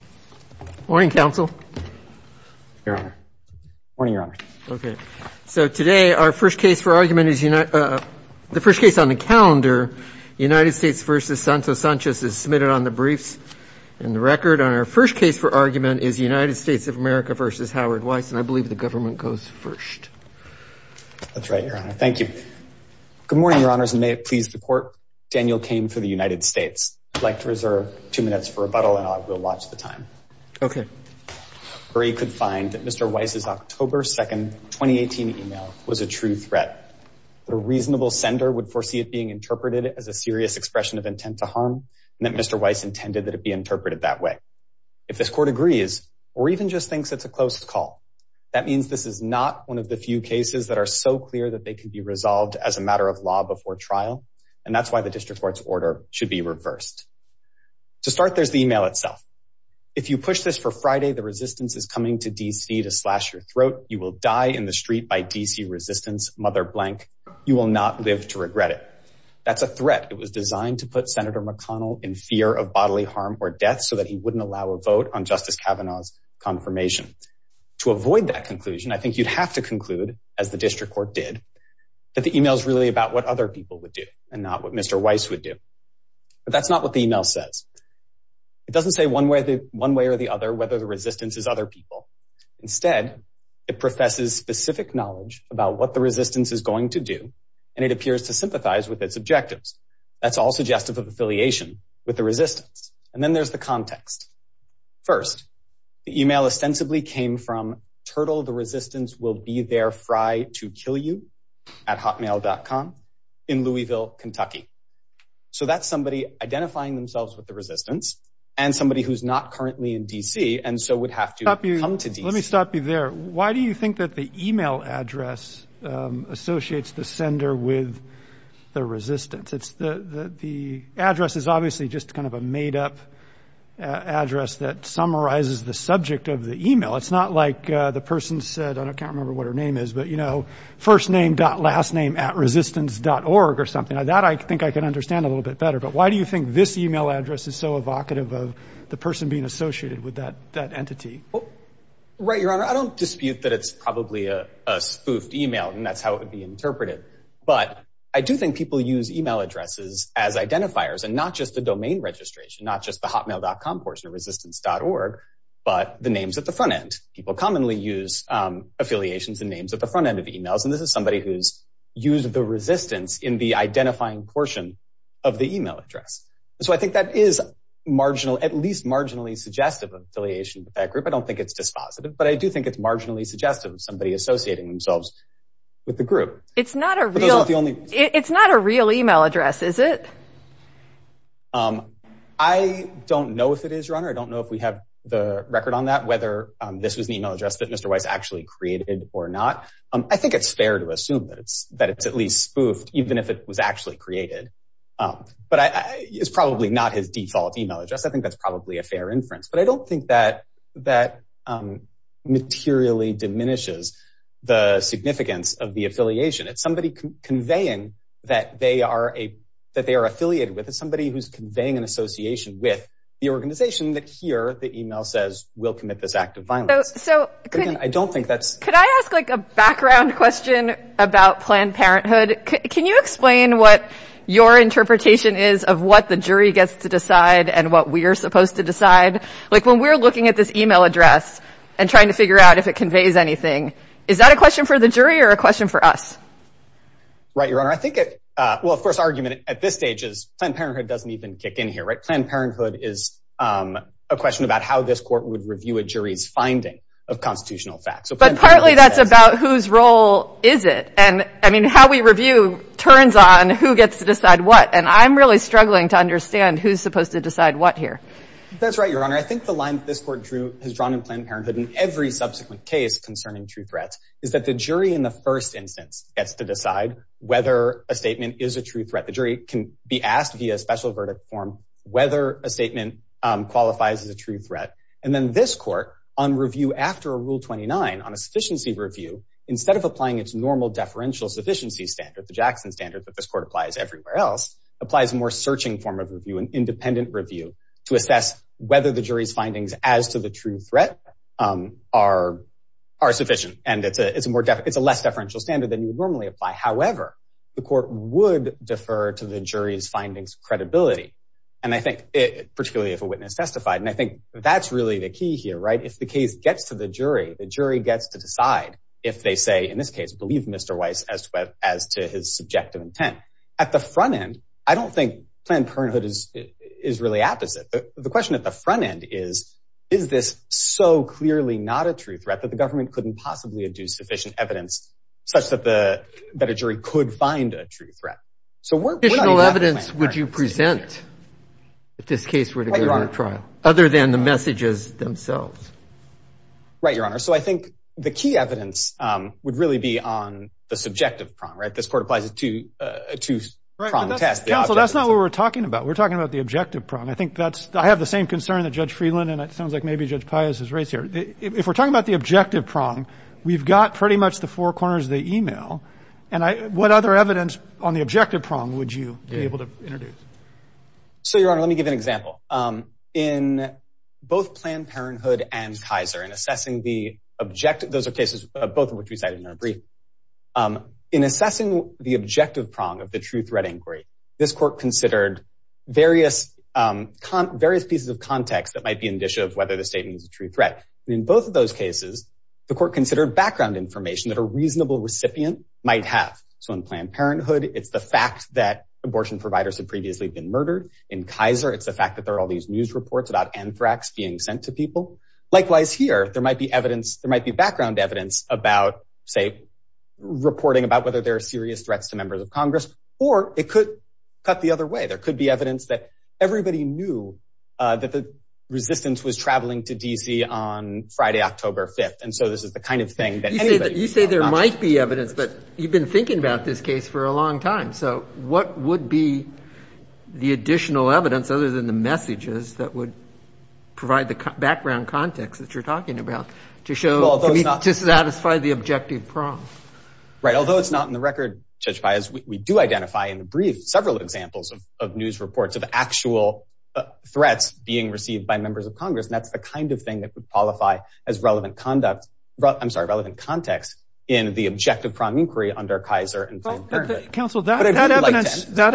Good morning, your honors, and may it please the court. Daniel came for the United States. I'd like to reserve two minutes for rebuttal, and I will watch the time. Okay. Or he could find that Mr. Weiss's October 2nd, 2018 email was a true threat. The reasonable sender would foresee it being interpreted as a serious expression of intent to harm, and that Mr. Weiss intended that it be interpreted that way. If this court agrees, or even just thinks it's a closed call, that means this is not one of the few cases that are so clear that they can be resolved as a matter of law before trial, and that's why the district court's order should be reversed. To start, there's the email itself. If you push this for Friday, the resistance is coming to D.C. to slash your throat. You will die in the street by D.C. resistance, mother blank. You will not live to regret it. That's a threat. It was designed to put Senator McConnell in fear of bodily harm or death so that he wouldn't allow a vote on Justice Kavanaugh's confirmation. To avoid that conclusion, I think you'd have to conclude, as the district court did, that the email's really about what other people would do and not what Mr. Weiss would do. But that's not what the email says. It doesn't say one way or the other whether the resistance is other people. Instead, it professes specific knowledge about what the resistance is going to do, and it appears to sympathize with its objectives. That's all suggestive of affiliation with the resistance. And then there's the context. First, the email ostensibly came from Turtle the Resistance Will Be There Fry to Kill You at Hotmail.com in Louisville, Kentucky. So that's somebody identifying themselves with the resistance and somebody who's not currently in D.C. and so would have to come to D.C. Let me stop you there. Why do you think that the email address associates the sender with the resistance? The address is obviously just kind of a made-up address that summarizes the subject of the email. It's not like the person said, I can't remember what her name is, but, you know, firstname.lastnameatresistance.org or something. That I think I can understand a little bit better. But why do you think this email address is so evocative of the person being associated with that entity? Right, Your Honor. I don't dispute that it's probably a spoofed email, and that's how it would be interpreted. But I do think people use email addresses as identifiers, and not just the domain registration, not just the Hotmail.com portion of Resistance.org, but the names at the front end. People commonly use affiliations and names at the front end of emails, and this is somebody who's used the resistance in the identifying portion of the email address. So I think that is at least marginally suggestive of affiliation with that group. I don't think it's dispositive, but I do think it's marginally suggestive of somebody associating themselves with the group. It's not a real email address, is it? I don't know if it is, Your Honor. I don't know if we have the record on that, whether this was an email address that Mr. Weiss actually created or not. I think it's fair to assume that it's at least spoofed, even if it was actually created. But it's probably not his default email address. I think that's probably a fair inference. But I don't think that materially diminishes the significance of the affiliation. It's somebody conveying that they are affiliated with. It's somebody who's conveying an association with the organization that, here, the email says, we'll commit this act of violence. Could I ask a background question about Planned Parenthood? Can you explain what your interpretation is of what the jury gets to decide and what we are supposed to decide? When we're looking at this email address and trying to figure out if it conveys anything, is that a question for the jury or a question for us? Right, Your Honor. Well, of course, our argument at this stage is Planned Parenthood doesn't even kick in here. Planned Parenthood is a question about how this court would review a jury's finding of constitutional facts. But partly that's about whose role is it. And, I mean, how we review turns on who gets to decide what. And I'm really struggling to understand who's supposed to decide what here. That's right, Your Honor. I think the line that this court drew has drawn in Planned Parenthood in every subsequent case concerning true threats is that the jury in the first instance gets to decide whether a statement is a true threat. The jury can be asked via special verdict form whether a statement qualifies as a true threat. And then this court, on review after a Rule 29, on a sufficiency review, instead of applying its normal deferential sufficiency standard, the Jackson standard that this court applies everywhere else, applies a more searching form of review, an independent review, to assess whether the jury's findings as to the true threat are sufficient. And it's a less deferential standard than you would normally apply. However, the court would defer to the jury's findings credibility, particularly if a witness testified. And I think that's really the key here, right? If the case gets to the jury, the jury gets to decide if they say, in this case, believe Mr. Weiss as to his subjective intent. At the front end, I don't think Planned Parenthood is really apt as it. The question at the front end is, is this so clearly not a true threat that the government couldn't possibly do sufficient evidence such that a jury could find a true threat? So what additional evidence would you present if this case were to go to trial, other than the messages themselves? Right, Your Honor. So I think the key evidence would really be on the subjective prong, right? This court applies it to a two prong test. Counsel, that's not what we're talking about. We're talking about the objective prong. I think that's I have the same concern that Judge Friedland and it sounds like maybe Judge Pius is right here. If we're talking about the objective prong, we've got pretty much the four corners of the email. And what other evidence on the objective prong would you be able to introduce? So, Your Honor, let me give an example. In both Planned Parenthood and Kaiser, in assessing the objective, those are cases, both of which we cited in our brief. In assessing the objective prong of the true threat inquiry, this court considered various pieces of context that might be indicia of whether the statement is a true threat. In both of those cases, the court considered background information that a reasonable recipient might have. So in Planned Parenthood, it's the fact that abortion providers have previously been murdered. In Kaiser, it's the fact that there are all these news reports about anthrax being sent to people. Likewise, here, there might be evidence, there might be background evidence about, say, reporting about whether there are serious threats to members of Congress, or it could cut the other way. There could be evidence that everybody knew that the resistance was traveling to D.C. on Friday, October 5th. And so this is the kind of thing that anybody would know about. You say there might be evidence, but you've been thinking about this case for a long time. So what would be the additional evidence, other than the messages, that would provide the background context that you're talking about to show, to satisfy the objective prong? Right. Although it's not in the record, Judge Paius, we do identify in the brief several examples of news reports of actual threats being received by members of Congress. And that's the kind of thing that would qualify as relevant conduct, I'm sorry, relevant context in the objective prong inquiry under Kaiser and Planned Parenthood. Counsel, that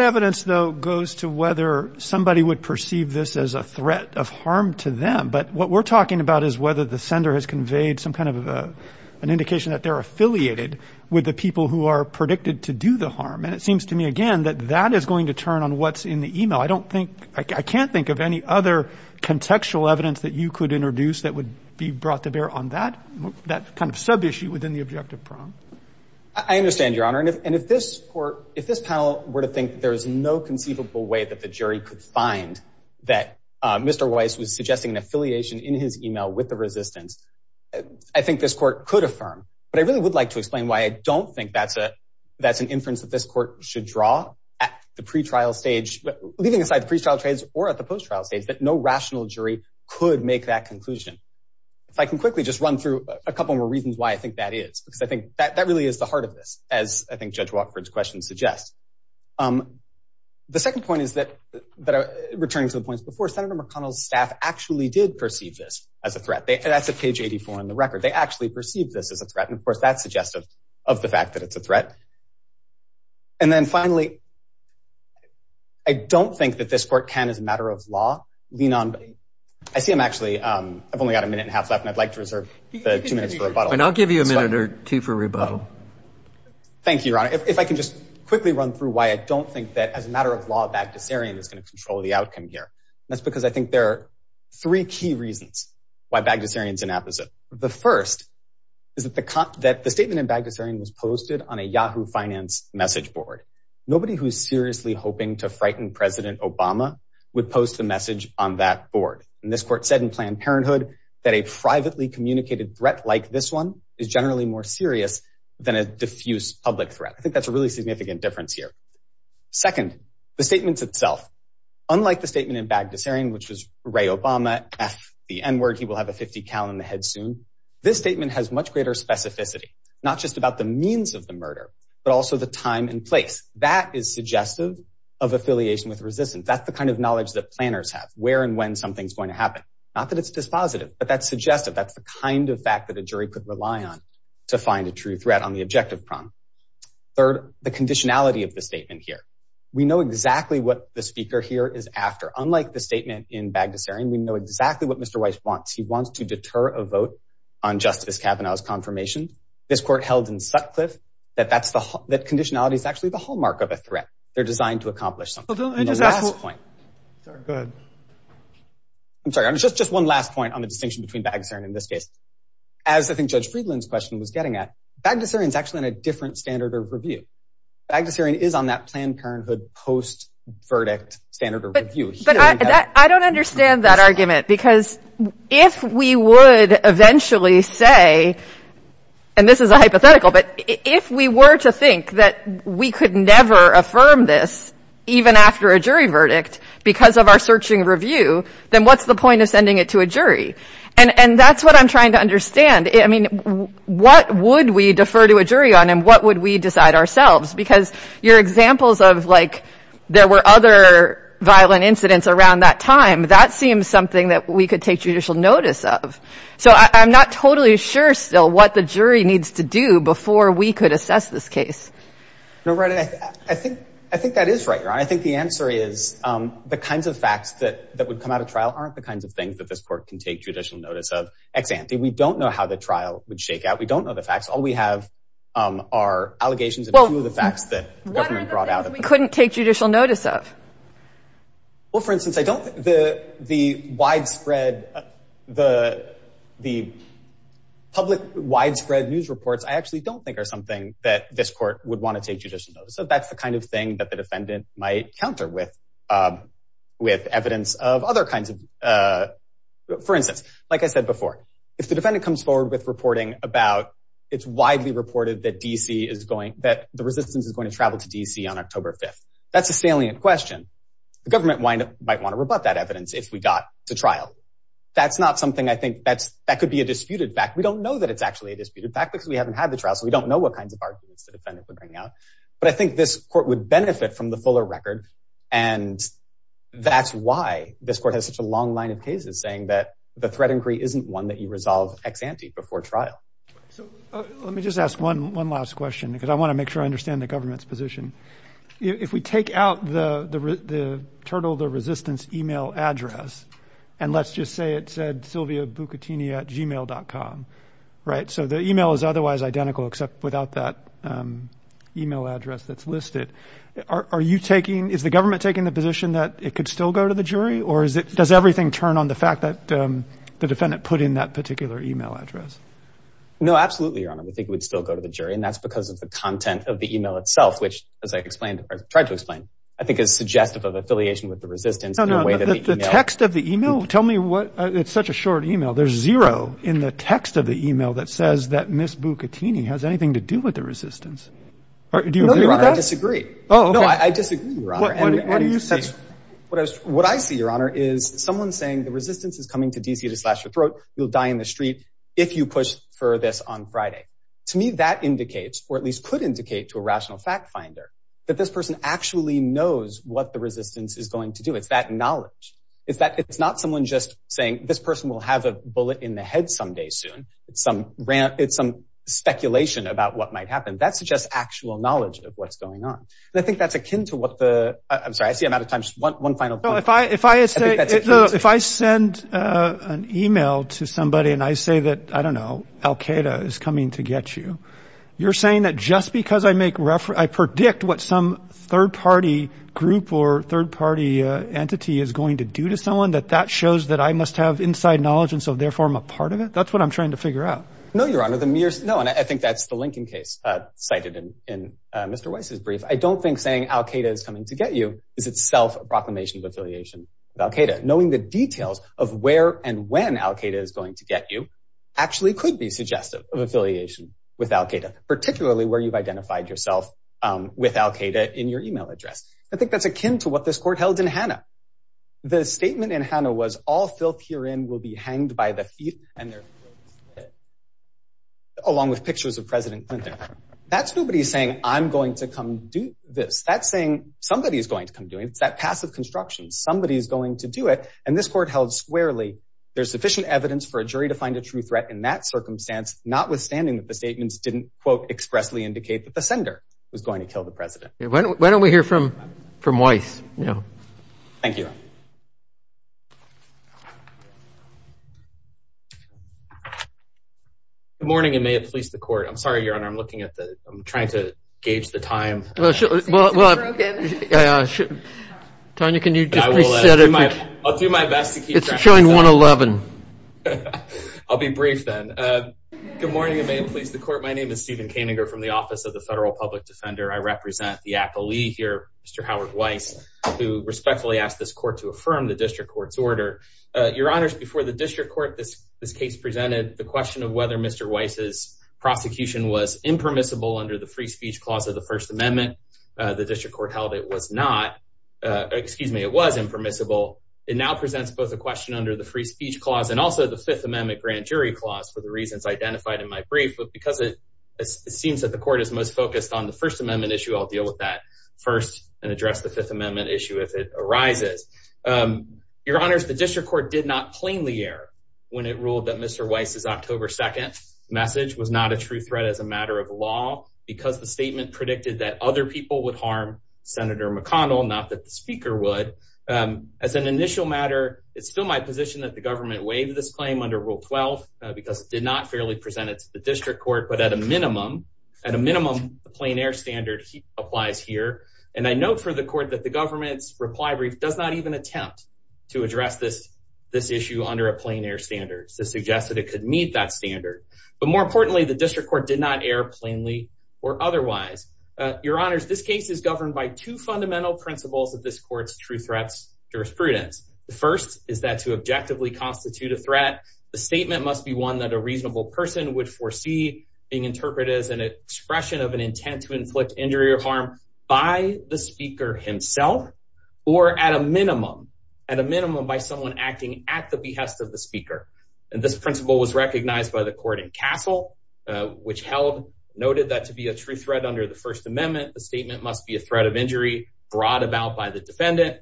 evidence, though, goes to whether somebody would perceive this as a threat of harm to them. But what we're talking about is whether the sender has conveyed some kind of an indication that they're affiliated with the people who are predicted to do the harm. And it seems to me, again, that that is going to turn on what's in the e-mail. I don't think, I can't think of any other contextual evidence that you could introduce that would be brought to bear on that kind of sub-issue within the objective prong. I understand, Your Honor. And if this panel were to think there is no conceivable way that the jury could find that Mr. Weiss was suggesting an affiliation in his e-mail with the resistance, I think this court could affirm. But I really would like to explain why I don't think that's an inference that this court should draw at the pre-trial stage, leaving aside the pre-trial trades or at the post-trial stage, that no rational jury could make that conclusion. If I can quickly just run through a couple more reasons why I think that is, because I think that really is the heart of this, as I think Judge Watford's question suggests. The second point is that, returning to the points before, Senator McConnell's staff actually did perceive this as a threat. That's at page 84 in the record. They actually perceived this as a threat. And, of course, that's suggestive of the fact that it's a threat. And then, finally, I don't think that this court can, as a matter of law, lean on. I see I'm actually, I've only got a minute and a half left, and I'd like to reserve the two minutes for rebuttal. And I'll give you a minute or two for rebuttal. Thank you, Your Honor. If I can just quickly run through why I don't think that, as a matter of law, Bagdasarian is going to control the outcome here. That's because I think there are three key reasons why Bagdasarian's inapposite. The first is that the statement in Bagdasarian was posted on a Yahoo Finance message board. Nobody who's seriously hoping to frighten President Obama would post a message on that board. And this court said in Planned Parenthood that a privately communicated threat like this one is generally more serious than a diffuse public threat. I think that's a really significant difference here. Second, the statements itself. Unlike the statement in Bagdasarian, which was, Ray Obama, F the N word, he will have a .50 cal in the head soon, this statement has much greater specificity, not just about the means of the murder, but also the time and place. That is suggestive of affiliation with resistance. That's the kind of knowledge that planners have, where and when something's going to happen. Not that it's dispositive, but that's suggestive. That's the kind of fact that a jury could rely on to find a true threat on the objective prong. Third, the conditionality of the statement here. We know exactly what the speaker here is after. Unlike the statement in Bagdasarian, we know exactly what Mr. Weiss wants. He wants to deter a vote on Justice Kavanaugh's confirmation. This court held in Sutcliffe that conditionality is actually the hallmark of a threat. They're designed to accomplish something. And the last point. I'm sorry, just one last point on the distinction between Bagdasarian and this case. As I think Judge Friedland's question was getting at, Bagdasarian's actually on a different standard of review. Bagdasarian is on that Planned Parenthood post-verdict standard of review. But I don't understand that argument, because if we would eventually say, and this is a hypothetical, but if we were to think that we could never affirm this, even after a jury verdict, because of our searching review, then what's the point of sending it to a jury? And that's what I'm trying to understand. I mean, what would we defer to a jury on, and what would we decide ourselves? Because your examples of, like, there were other violent incidents around that time, that seems something that we could take judicial notice of. So I'm not totally sure still what the jury needs to do before we could assess this case. I think that is right, Your Honor. I think the answer is the kinds of facts that would come out of trial aren't the kinds of things that this court can take judicial notice of. Ex ante, we don't know how the trial would shake out. We don't know the facts. All we have are allegations of a few of the facts that the government brought out. What are the things we couldn't take judicial notice of? Well, for instance, I don't think the widespread, the public widespread news reports, I actually don't think are something that this court would want to take judicial notice of. So that's the kind of thing that the defendant might counter with, with evidence of other kinds of, for instance, like I said before, if the defendant comes forward with reporting about, it's widely reported that D.C. is going, that the resistance is going to travel to D.C. on October 5th. That's a salient question. The government might want to rebut that evidence if we got to trial. That's not something I think that's, that could be a disputed fact. We don't know that it's actually a disputed fact because we haven't had the trial, so we don't know what kinds of arguments the defendant would bring out. But I think this court would benefit from the fuller record, and that's why this court has such a long line of cases saying that the threat inquiry isn't one that you resolve ex-ante before trial. So let me just ask one last question because I want to make sure I understand the government's position. If we take out the turtle, the resistance email address, and let's just say it said sylviabucatini at gmail.com, right? So the email is otherwise identical except without that email address that's listed. Are you taking, is the government taking the position that it could still go to the jury, or does everything turn on the fact that the defendant put in that particular email address? No, absolutely, Your Honor. We think it would still go to the jury, and that's because of the content of the email itself, which as I explained, or tried to explain, I think is suggestive of affiliation with the resistance. No, no, the text of the email, tell me what, it's such a short email. There's zero in the text of the email that says that Ms. Bucatini has anything to do with the resistance. Do you agree with that? No, Your Honor, I disagree. Oh, okay. No, I disagree, Your Honor. What do you see? What I see, Your Honor, is someone saying the resistance is coming to DC to slash your throat, you'll die in the street if you push for this on Friday. To me, that indicates, or at least could indicate to a rational fact finder, that this person actually knows what the resistance is going to do. It's that knowledge. It's not someone just saying this person will have a bullet in the head someday soon. It's some speculation about what might happen. That's just actual knowledge of what's going on. And I think that's akin to what the, I'm sorry, I see I'm out of time. Just one final point. If I send an email to somebody and I say that, I don't know, Al-Qaeda is coming to get you, you're saying that just because I predict what some third-party group or third-party entity is going to do to someone, that that shows that I must have inside knowledge and so therefore I'm a part of it? That's what I'm trying to figure out. No, Your Honor. No, and I think that's the Lincoln case cited in Mr. Weiss's brief. I don't think saying Al-Qaeda is coming to get you is itself a proclamation of affiliation with Al-Qaeda. Knowing the details of where and when Al-Qaeda is going to get you actually could be suggestive of affiliation with Al-Qaeda, particularly where you've identified yourself with Al-Qaeda in your email address. I think that's akin to what this court held in Hanna. The statement in Hanna was all filth herein will be hanged by the feet, along with pictures of President Clinton. That's nobody saying I'm going to come do this. That's saying somebody is going to come do it. It's that passive construction. Somebody is going to do it. And this court held squarely there's sufficient evidence for a jury to find a true threat in that circumstance, notwithstanding that the statements didn't, quote, expressly indicate that the sender was going to kill the president. Why don't we hear from Weiss? Thank you. Good morning, and may it please the court. I'm sorry, Your Honor. I'm looking at the – I'm trying to gauge the time. It seems to be broken. Tonya, can you just reset it? I'll do my best to keep track of it. It's showing 1-11. I'll be brief then. Good morning, and may it please the court. My name is Stephen Kaninger from the Office of the Federal Public Defender. I represent the appellee here, Mr. Howard Weiss, who respectfully asked this court to affirm the district court's order. Your Honors, before the district court this case presented, the question of whether Mr. Weiss's prosecution was impermissible under the free speech clause of the First Amendment, the district court held it was not. Excuse me, it was impermissible. It now presents both a question under the free speech clause and also the Fifth Amendment grand jury clause for the reasons identified in my brief. But because it seems that the court is most focused on the First Amendment issue, I'll deal with that first and address the Fifth Amendment issue if it arises. Your Honors, the district court did not plainly err when it ruled that Mr. Weiss's October 2nd message was not a true threat as a matter of law because the statement predicted that other people would harm Senator McConnell, not that the speaker would. As an initial matter, it's still my position that the government waived this claim under Rule 12 because it did not fairly present it to the district court. But at a minimum, at a minimum, the plain air standard applies here. And I note for the court that the government's reply brief does not even attempt to address this issue under a plain air standard. This suggests that it could meet that standard. But more importantly, the district court did not err plainly or otherwise. Your Honors, this case is governed by two fundamental principles of this court's true threats jurisprudence. The first is that to objectively constitute a threat, the statement must be one that a reasonable person would foresee being interpreted as an expression of an intent to inflict injury or harm by the speaker himself or at a minimum, at a minimum, by someone acting at the behest of the speaker. And this principle was recognized by the court in Castle, which held, noted that to be a true threat under the First Amendment, the statement must be a threat of injury brought about by the defendant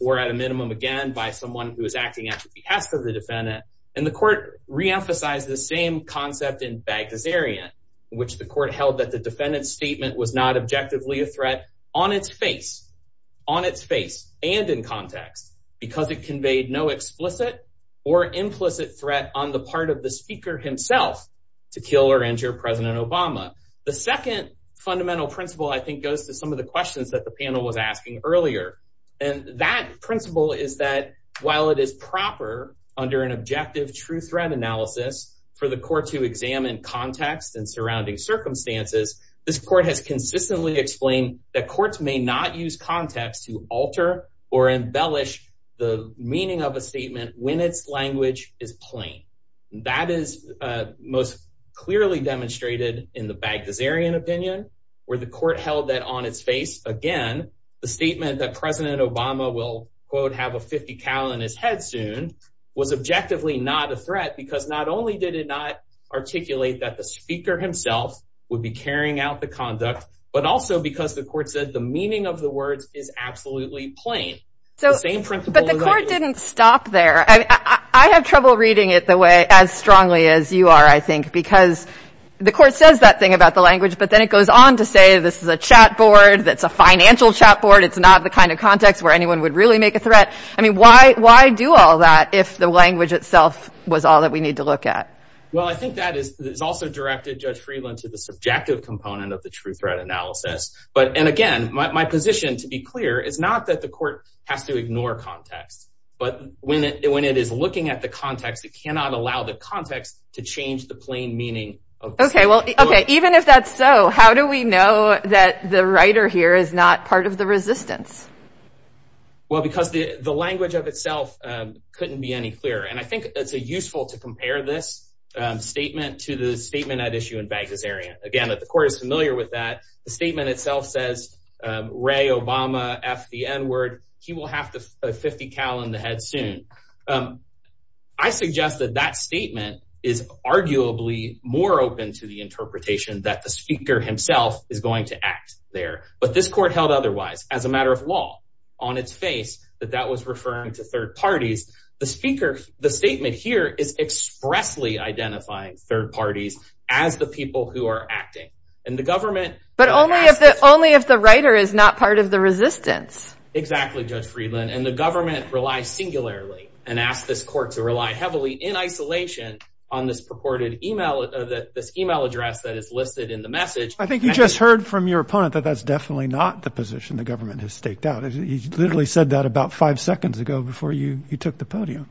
or at a minimum, again, by someone who is acting at the behest of the defendant. And the court reemphasized the same concept in Baghdad's area, in which the court held that the defendant's statement was not objectively a threat on its face, on its face and in context, because it conveyed no explicit or implicit threat on the part of the speaker himself to kill or injure President Obama. The second fundamental principle, I think, goes to some of the questions that the panel was asking earlier. And that principle is that while it is proper under an objective true threat analysis for the court to examine context and surrounding circumstances, this court has consistently explained that courts may not use context to alter or embellish the meaning of a statement when its language is plain. That is most clearly demonstrated in the Baghdad's area opinion, where the court held that on its face, again, the statement that President Obama will, quote, have a 50 cal in his head soon, was objectively not a threat because not only did it not articulate that the speaker himself would be carrying out the conduct, but also because the court said the meaning of the words is absolutely plain. The same principle that I use. But the court didn't stop there. I have trouble reading it the way, as strongly as you are, I think, because the court says that thing about the language, but then it goes on to say this is a chat board that's a financial chat board. It's not the kind of context where anyone would really make a threat. I mean, why do all that if the language itself was all that we need to look at? Well, I think that is also directed, Judge Friedland, to the subjective component of the true threat analysis. And, again, my position, to be clear, is not that the court has to ignore context, but when it is looking at the context, it cannot allow the context to change the plain meaning. Okay. Even if that's so, how do we know that the writer here is not part of the resistance? Well, because the language of itself couldn't be any clearer. And I think it's useful to compare this statement to the statement at issue in Baghdad's area. Again, the court is familiar with that. The statement itself says, Ray Obama, F the N word, he will have a .50 cal in the head soon. I suggest that that statement is arguably more open to the interpretation that the speaker himself is going to act there. But this court held otherwise, as a matter of law, on its face, that that was referring to third parties. The speaker, the statement here is expressly identifying third parties as the people who are acting. And the government. But only if the writer is not part of the resistance. Exactly, Judge Friedland. And the government relies singularly and asks this court to rely heavily in isolation on this purported email address that is listed in the message. I think you just heard from your opponent that that's definitely not the position the government has staked out. He literally said that about five seconds ago before you took the podium.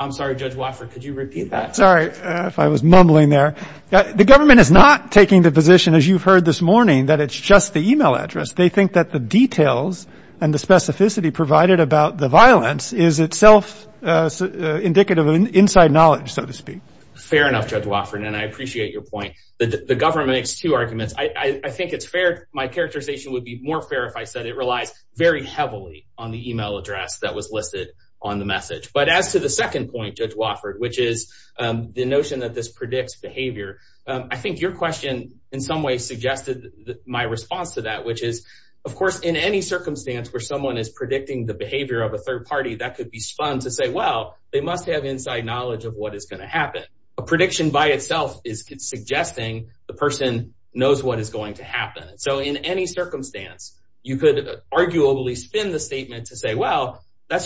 I'm sorry, Judge Wofford, could you repeat that? Sorry if I was mumbling there. The government is not taking the position, as you've heard this morning, that it's just the email address. They think that the details and the specificity provided about the violence is itself indicative of inside knowledge, so to speak. Fair enough, Judge Wofford, and I appreciate your point. The government makes two arguments. I think it's fair. My characterization would be more fair if I said it relies very heavily on the email address that was listed on the message. But as to the second point, Judge Wofford, which is the notion that this predicts behavior, I think your question in some ways suggested my response to that, which is, of course, in any circumstance where someone is predicting the behavior of a third party, that could be fun to say, well, they must have inside knowledge of what is going to happen. A prediction by itself is suggesting the person knows what is going to happen. So in any circumstance, you could arguably spin the statement to say, well, that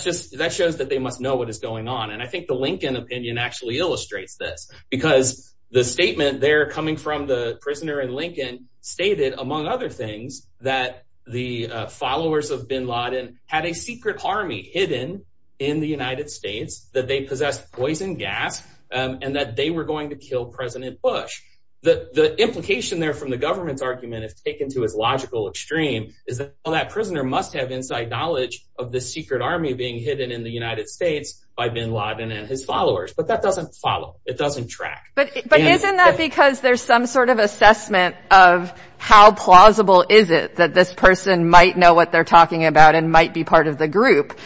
shows that they must know what is going on. And I think the Lincoln opinion actually illustrates this, because the statement there coming from the prisoner in Lincoln stated, among other things, that the followers of bin Laden had a secret army hidden in the United States, that they possessed poison gas, and that they were going to kill President Bush. The implication there from the government's argument, if taken to its logical extreme, is that that prisoner must have inside knowledge of the secret army being hidden in the United States by bin Laden and his followers. But that doesn't follow. It doesn't track. But isn't that because there's some sort of assessment of how plausible is it that this person might know what they're talking about and might be part of the group?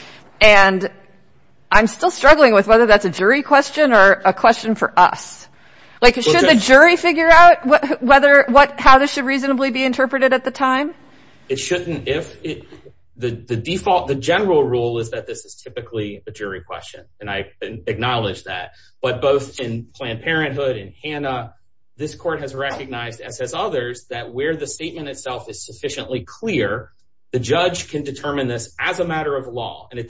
And I'm still struggling with whether that's a jury question or a question for us. Should the jury figure out how this should reasonably be interpreted at the time? The general rule is that this is typically a jury question, and I acknowledge that. But both in Planned Parenthood and Hanna, this court has recognized, as has others, that where the statement itself is sufficiently clear, the judge can determine this as a matter of law. And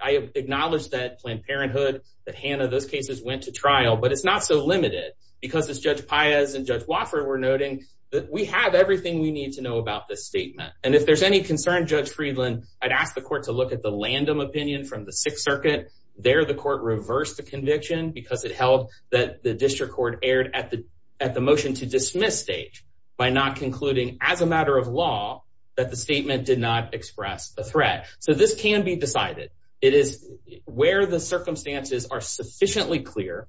I acknowledge that Planned Parenthood, that Hanna, those cases went to trial, but it's not so limited because, as Judge Paez and Judge Wofford were noting, that we have everything we need to know about this statement. And if there's any concern, Judge Friedland, I'd ask the court to look at the Landum opinion from the Sixth Circuit. There, the court reversed the conviction because it held that the district court erred at the motion to dismiss stage by not concluding, as a matter of law, that the statement did not express the threat. So this can be decided. It is where the circumstances are sufficiently clear,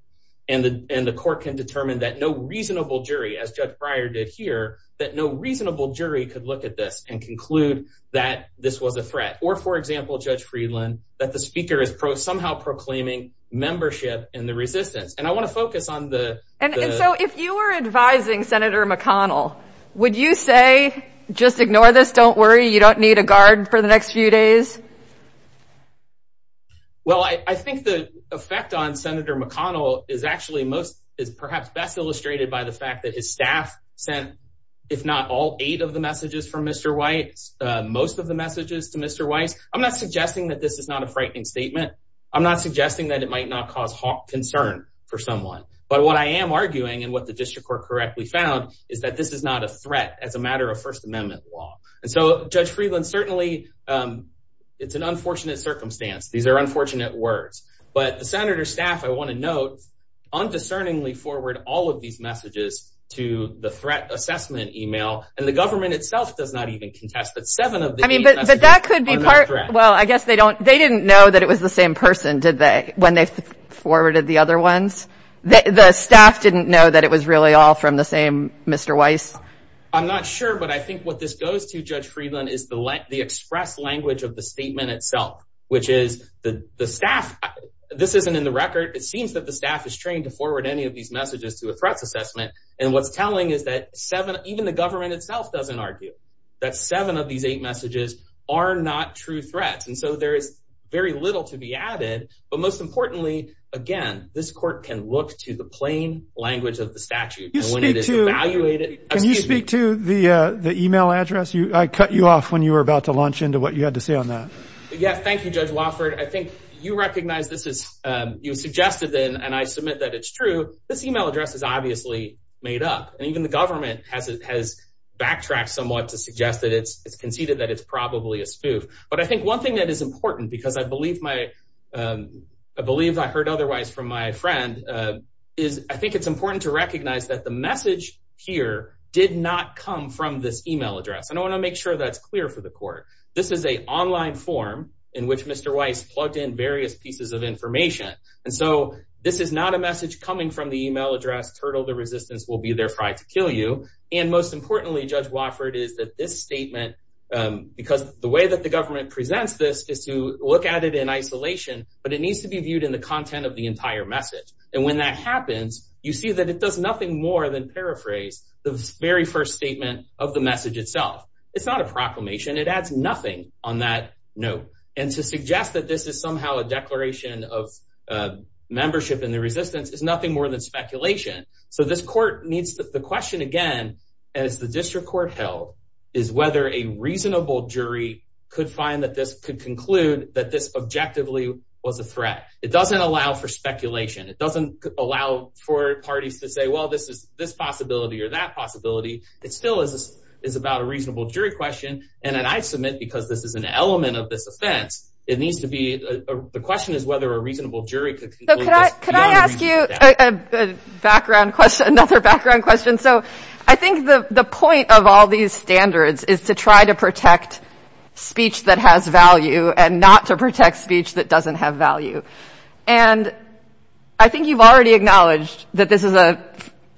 and the court can determine that no reasonable jury, as Judge Breyer did here, that no reasonable jury could look at this and conclude that this was a threat. Or, for example, Judge Friedland, that the speaker is somehow proclaiming membership in the resistance. And I want to focus on the... And so if you were advising Senator McConnell, would you say, just ignore this, don't worry, you don't need a guard for the next few days? Well, I think the effect on Senator McConnell is actually most... is perhaps best illustrated by the fact that his staff sent, if not all eight of the messages from Mr. White, most of the messages to Mr. White. I'm not suggesting that this is not a frightening statement. I'm not suggesting that it might not cause concern for someone. But what I am arguing, and what the district court correctly found, is that this is not a threat as a matter of First Amendment law. And so, Judge Friedland, certainly, it's an unfortunate circumstance. These are unfortunate words. But the Senator's staff, I want to note, undiscerningly forward all of these messages to the threat assessment email, and the government itself does not even contest that seven of the eight messages are not a threat. I mean, but that could be part... Well, I guess they don't... They didn't know that it was the same person, did they, when they forwarded the other ones? The staff didn't know that it was really all from the same Mr. Weiss? I'm not sure, but I think what this goes to, Judge Friedland, is the express language of the statement itself, which is the staff... This isn't in the record. It seems that the staff is trained to forward any of these messages to a threat assessment. And what's telling is that even the government itself doesn't argue that seven of these eight messages are not true threats. And so there is very little to be added. But most importantly, again, this court can look to the plain language of the statute. And when it is evaluated... Can you speak to the email address? I cut you off when you were about to launch into what you had to say on that. Yeah, thank you, Judge Wofford. I think you recognize this is... You suggested it, and I submit that it's true. This email address is obviously made up. And even the government has backtracked somewhat to suggest that it's conceded that it's probably a spoof. But I think one thing that is important, because I believe my... I believe I heard otherwise from my friend, is I think it's important to recognize that the message here did not come from this email address. And I want to make sure that's clear for the court. This is an online form in which Mr. Weiss plugged in various pieces of information. And so this is not a message coming from the email address, turtle, the resistance will be there fried to kill you. And most importantly, Judge Wofford, is that this statement... Because the way that the government presents this is to look at it in isolation, but it needs to be viewed in the content of the entire message. And when that happens, you see that it does nothing more than paraphrase the very first statement of the message itself. It's not a proclamation. It adds nothing on that note. And to suggest that this is somehow a declaration of membership in the resistance is nothing more than speculation. So this court needs... The question, again, as the district court held, is whether a reasonable jury could find that this could conclude that this objectively was a threat. It doesn't allow for speculation. It doesn't allow for parties to say, well, this possibility or that possibility. It still is about a reasonable jury question. And I submit, because this is an element of this offense, it needs to be... The question is whether a reasonable jury could conclude... Could I ask you another background question? So I think the point of all these standards is to try to protect speech that has value and not to protect speech that doesn't have value. And I think you've already acknowledged that this is a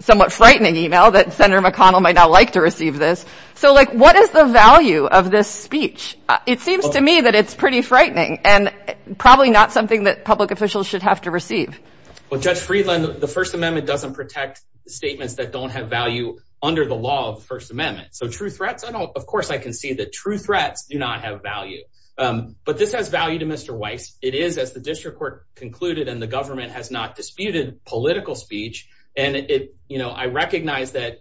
somewhat frightening email that Senator McConnell might not like to receive this. So, like, what is the value of this speech? It seems to me that it's pretty frightening and probably not something that public officials should have to receive. Well, Judge Friedland, the First Amendment doesn't protect statements that don't have value under the law of the First Amendment. So true threats, of course I can see that true threats do not have value. But this has value to Mr. Weiss. It is, as the district court concluded and the government has not disputed, political speech. And I recognize that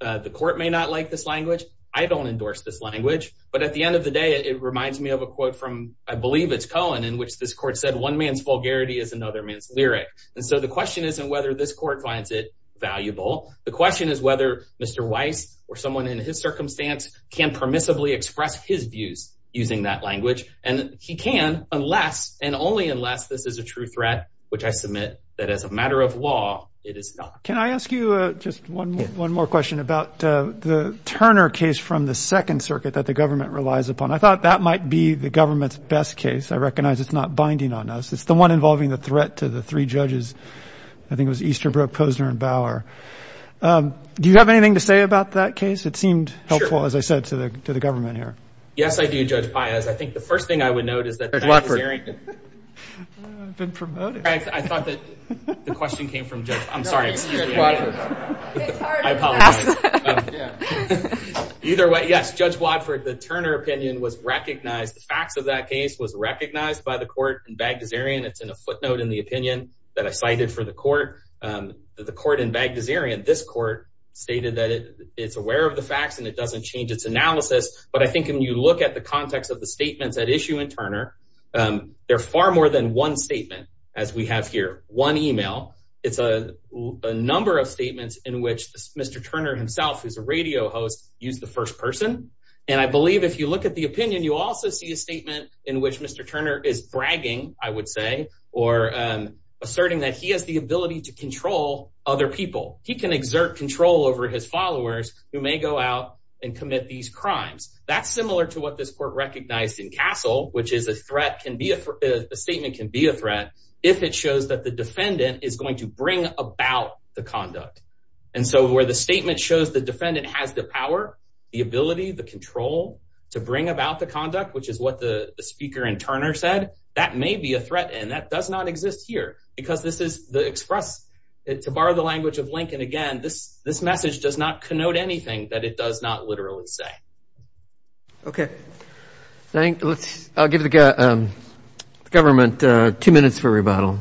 the court may not like this language. I don't endorse this language. But at the end of the day, it reminds me of a quote from, I believe it's Cohen, in which this court said, one man's vulgarity is another man's lyric. And so the question isn't whether this court finds it valuable. The question is whether Mr. Weiss or someone in his circumstance can permissibly express his views using that language. And he can unless and only unless this is a true threat, which I submit that as a matter of law, it is not. Can I ask you just one more question about the Turner case from the Second Circuit that the government relies upon? I thought that might be the government's best case. I recognize it's not binding on us. It's the one involving the threat to the three judges. I think it was Easterbrook, Posner, and Bauer. Do you have anything to say about that case? It seemed helpful, as I said, to the government here. Yes, I do, Judge Paius. I think the first thing I would note is that the Bagdasarian – Judge Wadford. I've been promoted. I thought that the question came from Judge – I'm sorry. Judge Wadford. I apologize. Either way, yes, Judge Wadford, the Turner opinion was recognized. The facts of that case was recognized by the court in Bagdasarian. It's in a footnote in the opinion that I cited for the court. The court in Bagdasarian, this court, stated that it's aware of the facts and it doesn't change its analysis. But I think when you look at the context of the statements at issue in Turner, they're far more than one statement, as we have here, one email. It's a number of statements in which Mr. Turner himself, who's a radio host, used the first person. And I believe if you look at the opinion, you also see a statement in which Mr. Turner is bragging, I would say, or asserting that he has the ability to control other people. He can exert control over his followers who may go out and commit these crimes. That's similar to what this court recognized in Castle, which is a statement can be a threat if it shows that the defendant is going to bring about the conduct. And so where the statement shows the defendant has the power, the ability, the control to bring about the conduct, which is what the speaker in Turner said, that may be a threat. And that does not exist here because this is the express, to borrow the language of Lincoln again, this message does not connote anything that it does not literally say. I'll give the government two minutes for rebuttal.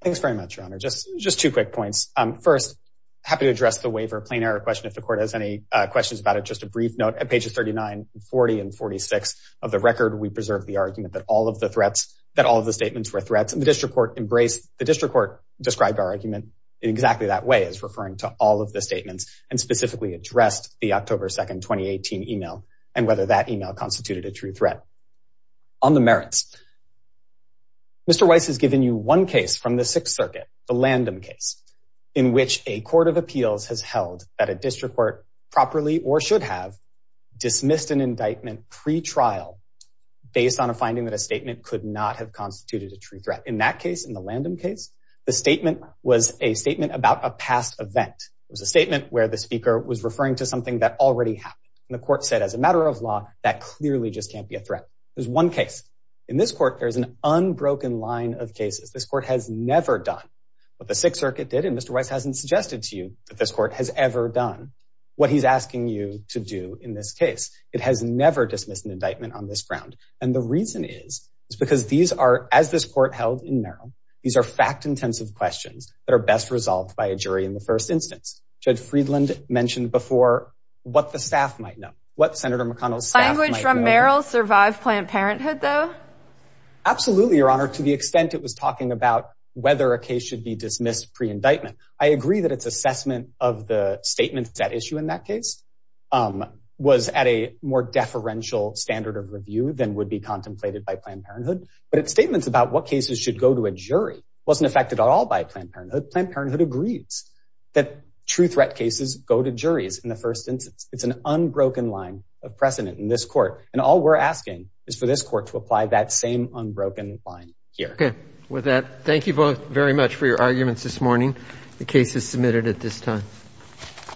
Thanks very much, Your Honor. Just two quick points. First, happy to address the waiver, plain error question if the court has any questions about it. Just a brief note at pages 39 and 40 and 46 of the record, we preserve the argument that all of the threats, that all of the statements were threats and the district court embraced, the district court described our argument in exactly that way as referring to all of the statements and specifically addressed the October 2nd, 2018 email, and whether that email constituted a true threat. In which a court of appeals has held that a district court properly or should have dismissed an indictment pre-trial based on a finding that a statement could not have constituted a true threat. In that case, in the Landon case, the statement was a statement about a past event. It was a statement where the speaker was referring to something that already happened. And the court said, as a matter of law, that clearly just can't be a threat. There's one case in this court. There's an unbroken line of cases. This court has never done what the sixth circuit did. And Mr. Weiss hasn't suggested to you that this court has ever done what he's asking you to do in this case. It has never dismissed an indictment on this ground. And the reason is, is because these are, as this court held in Merrill, these are fact intensive questions that are best resolved by a jury in the first instance. Judge Friedland mentioned before what the staff might know, what Senator McConnell's staff might know. Language from Merrill survived Planned Parenthood though? Absolutely, Your Honor. To the extent it was talking about whether a case should be dismissed pre-indictment. I agree that its assessment of the statements that issue in that case was at a more deferential standard of review than would be contemplated by Planned Parenthood. But its statements about what cases should go to a jury wasn't affected at all by Planned Parenthood. Planned Parenthood agrees that true threat cases go to juries in the first instance. It's an unbroken line of precedent in this court. And all we're asking is for this court to apply that same unbroken line here. Okay. With that, thank you both very much for your arguments this morning. The case is submitted at this time.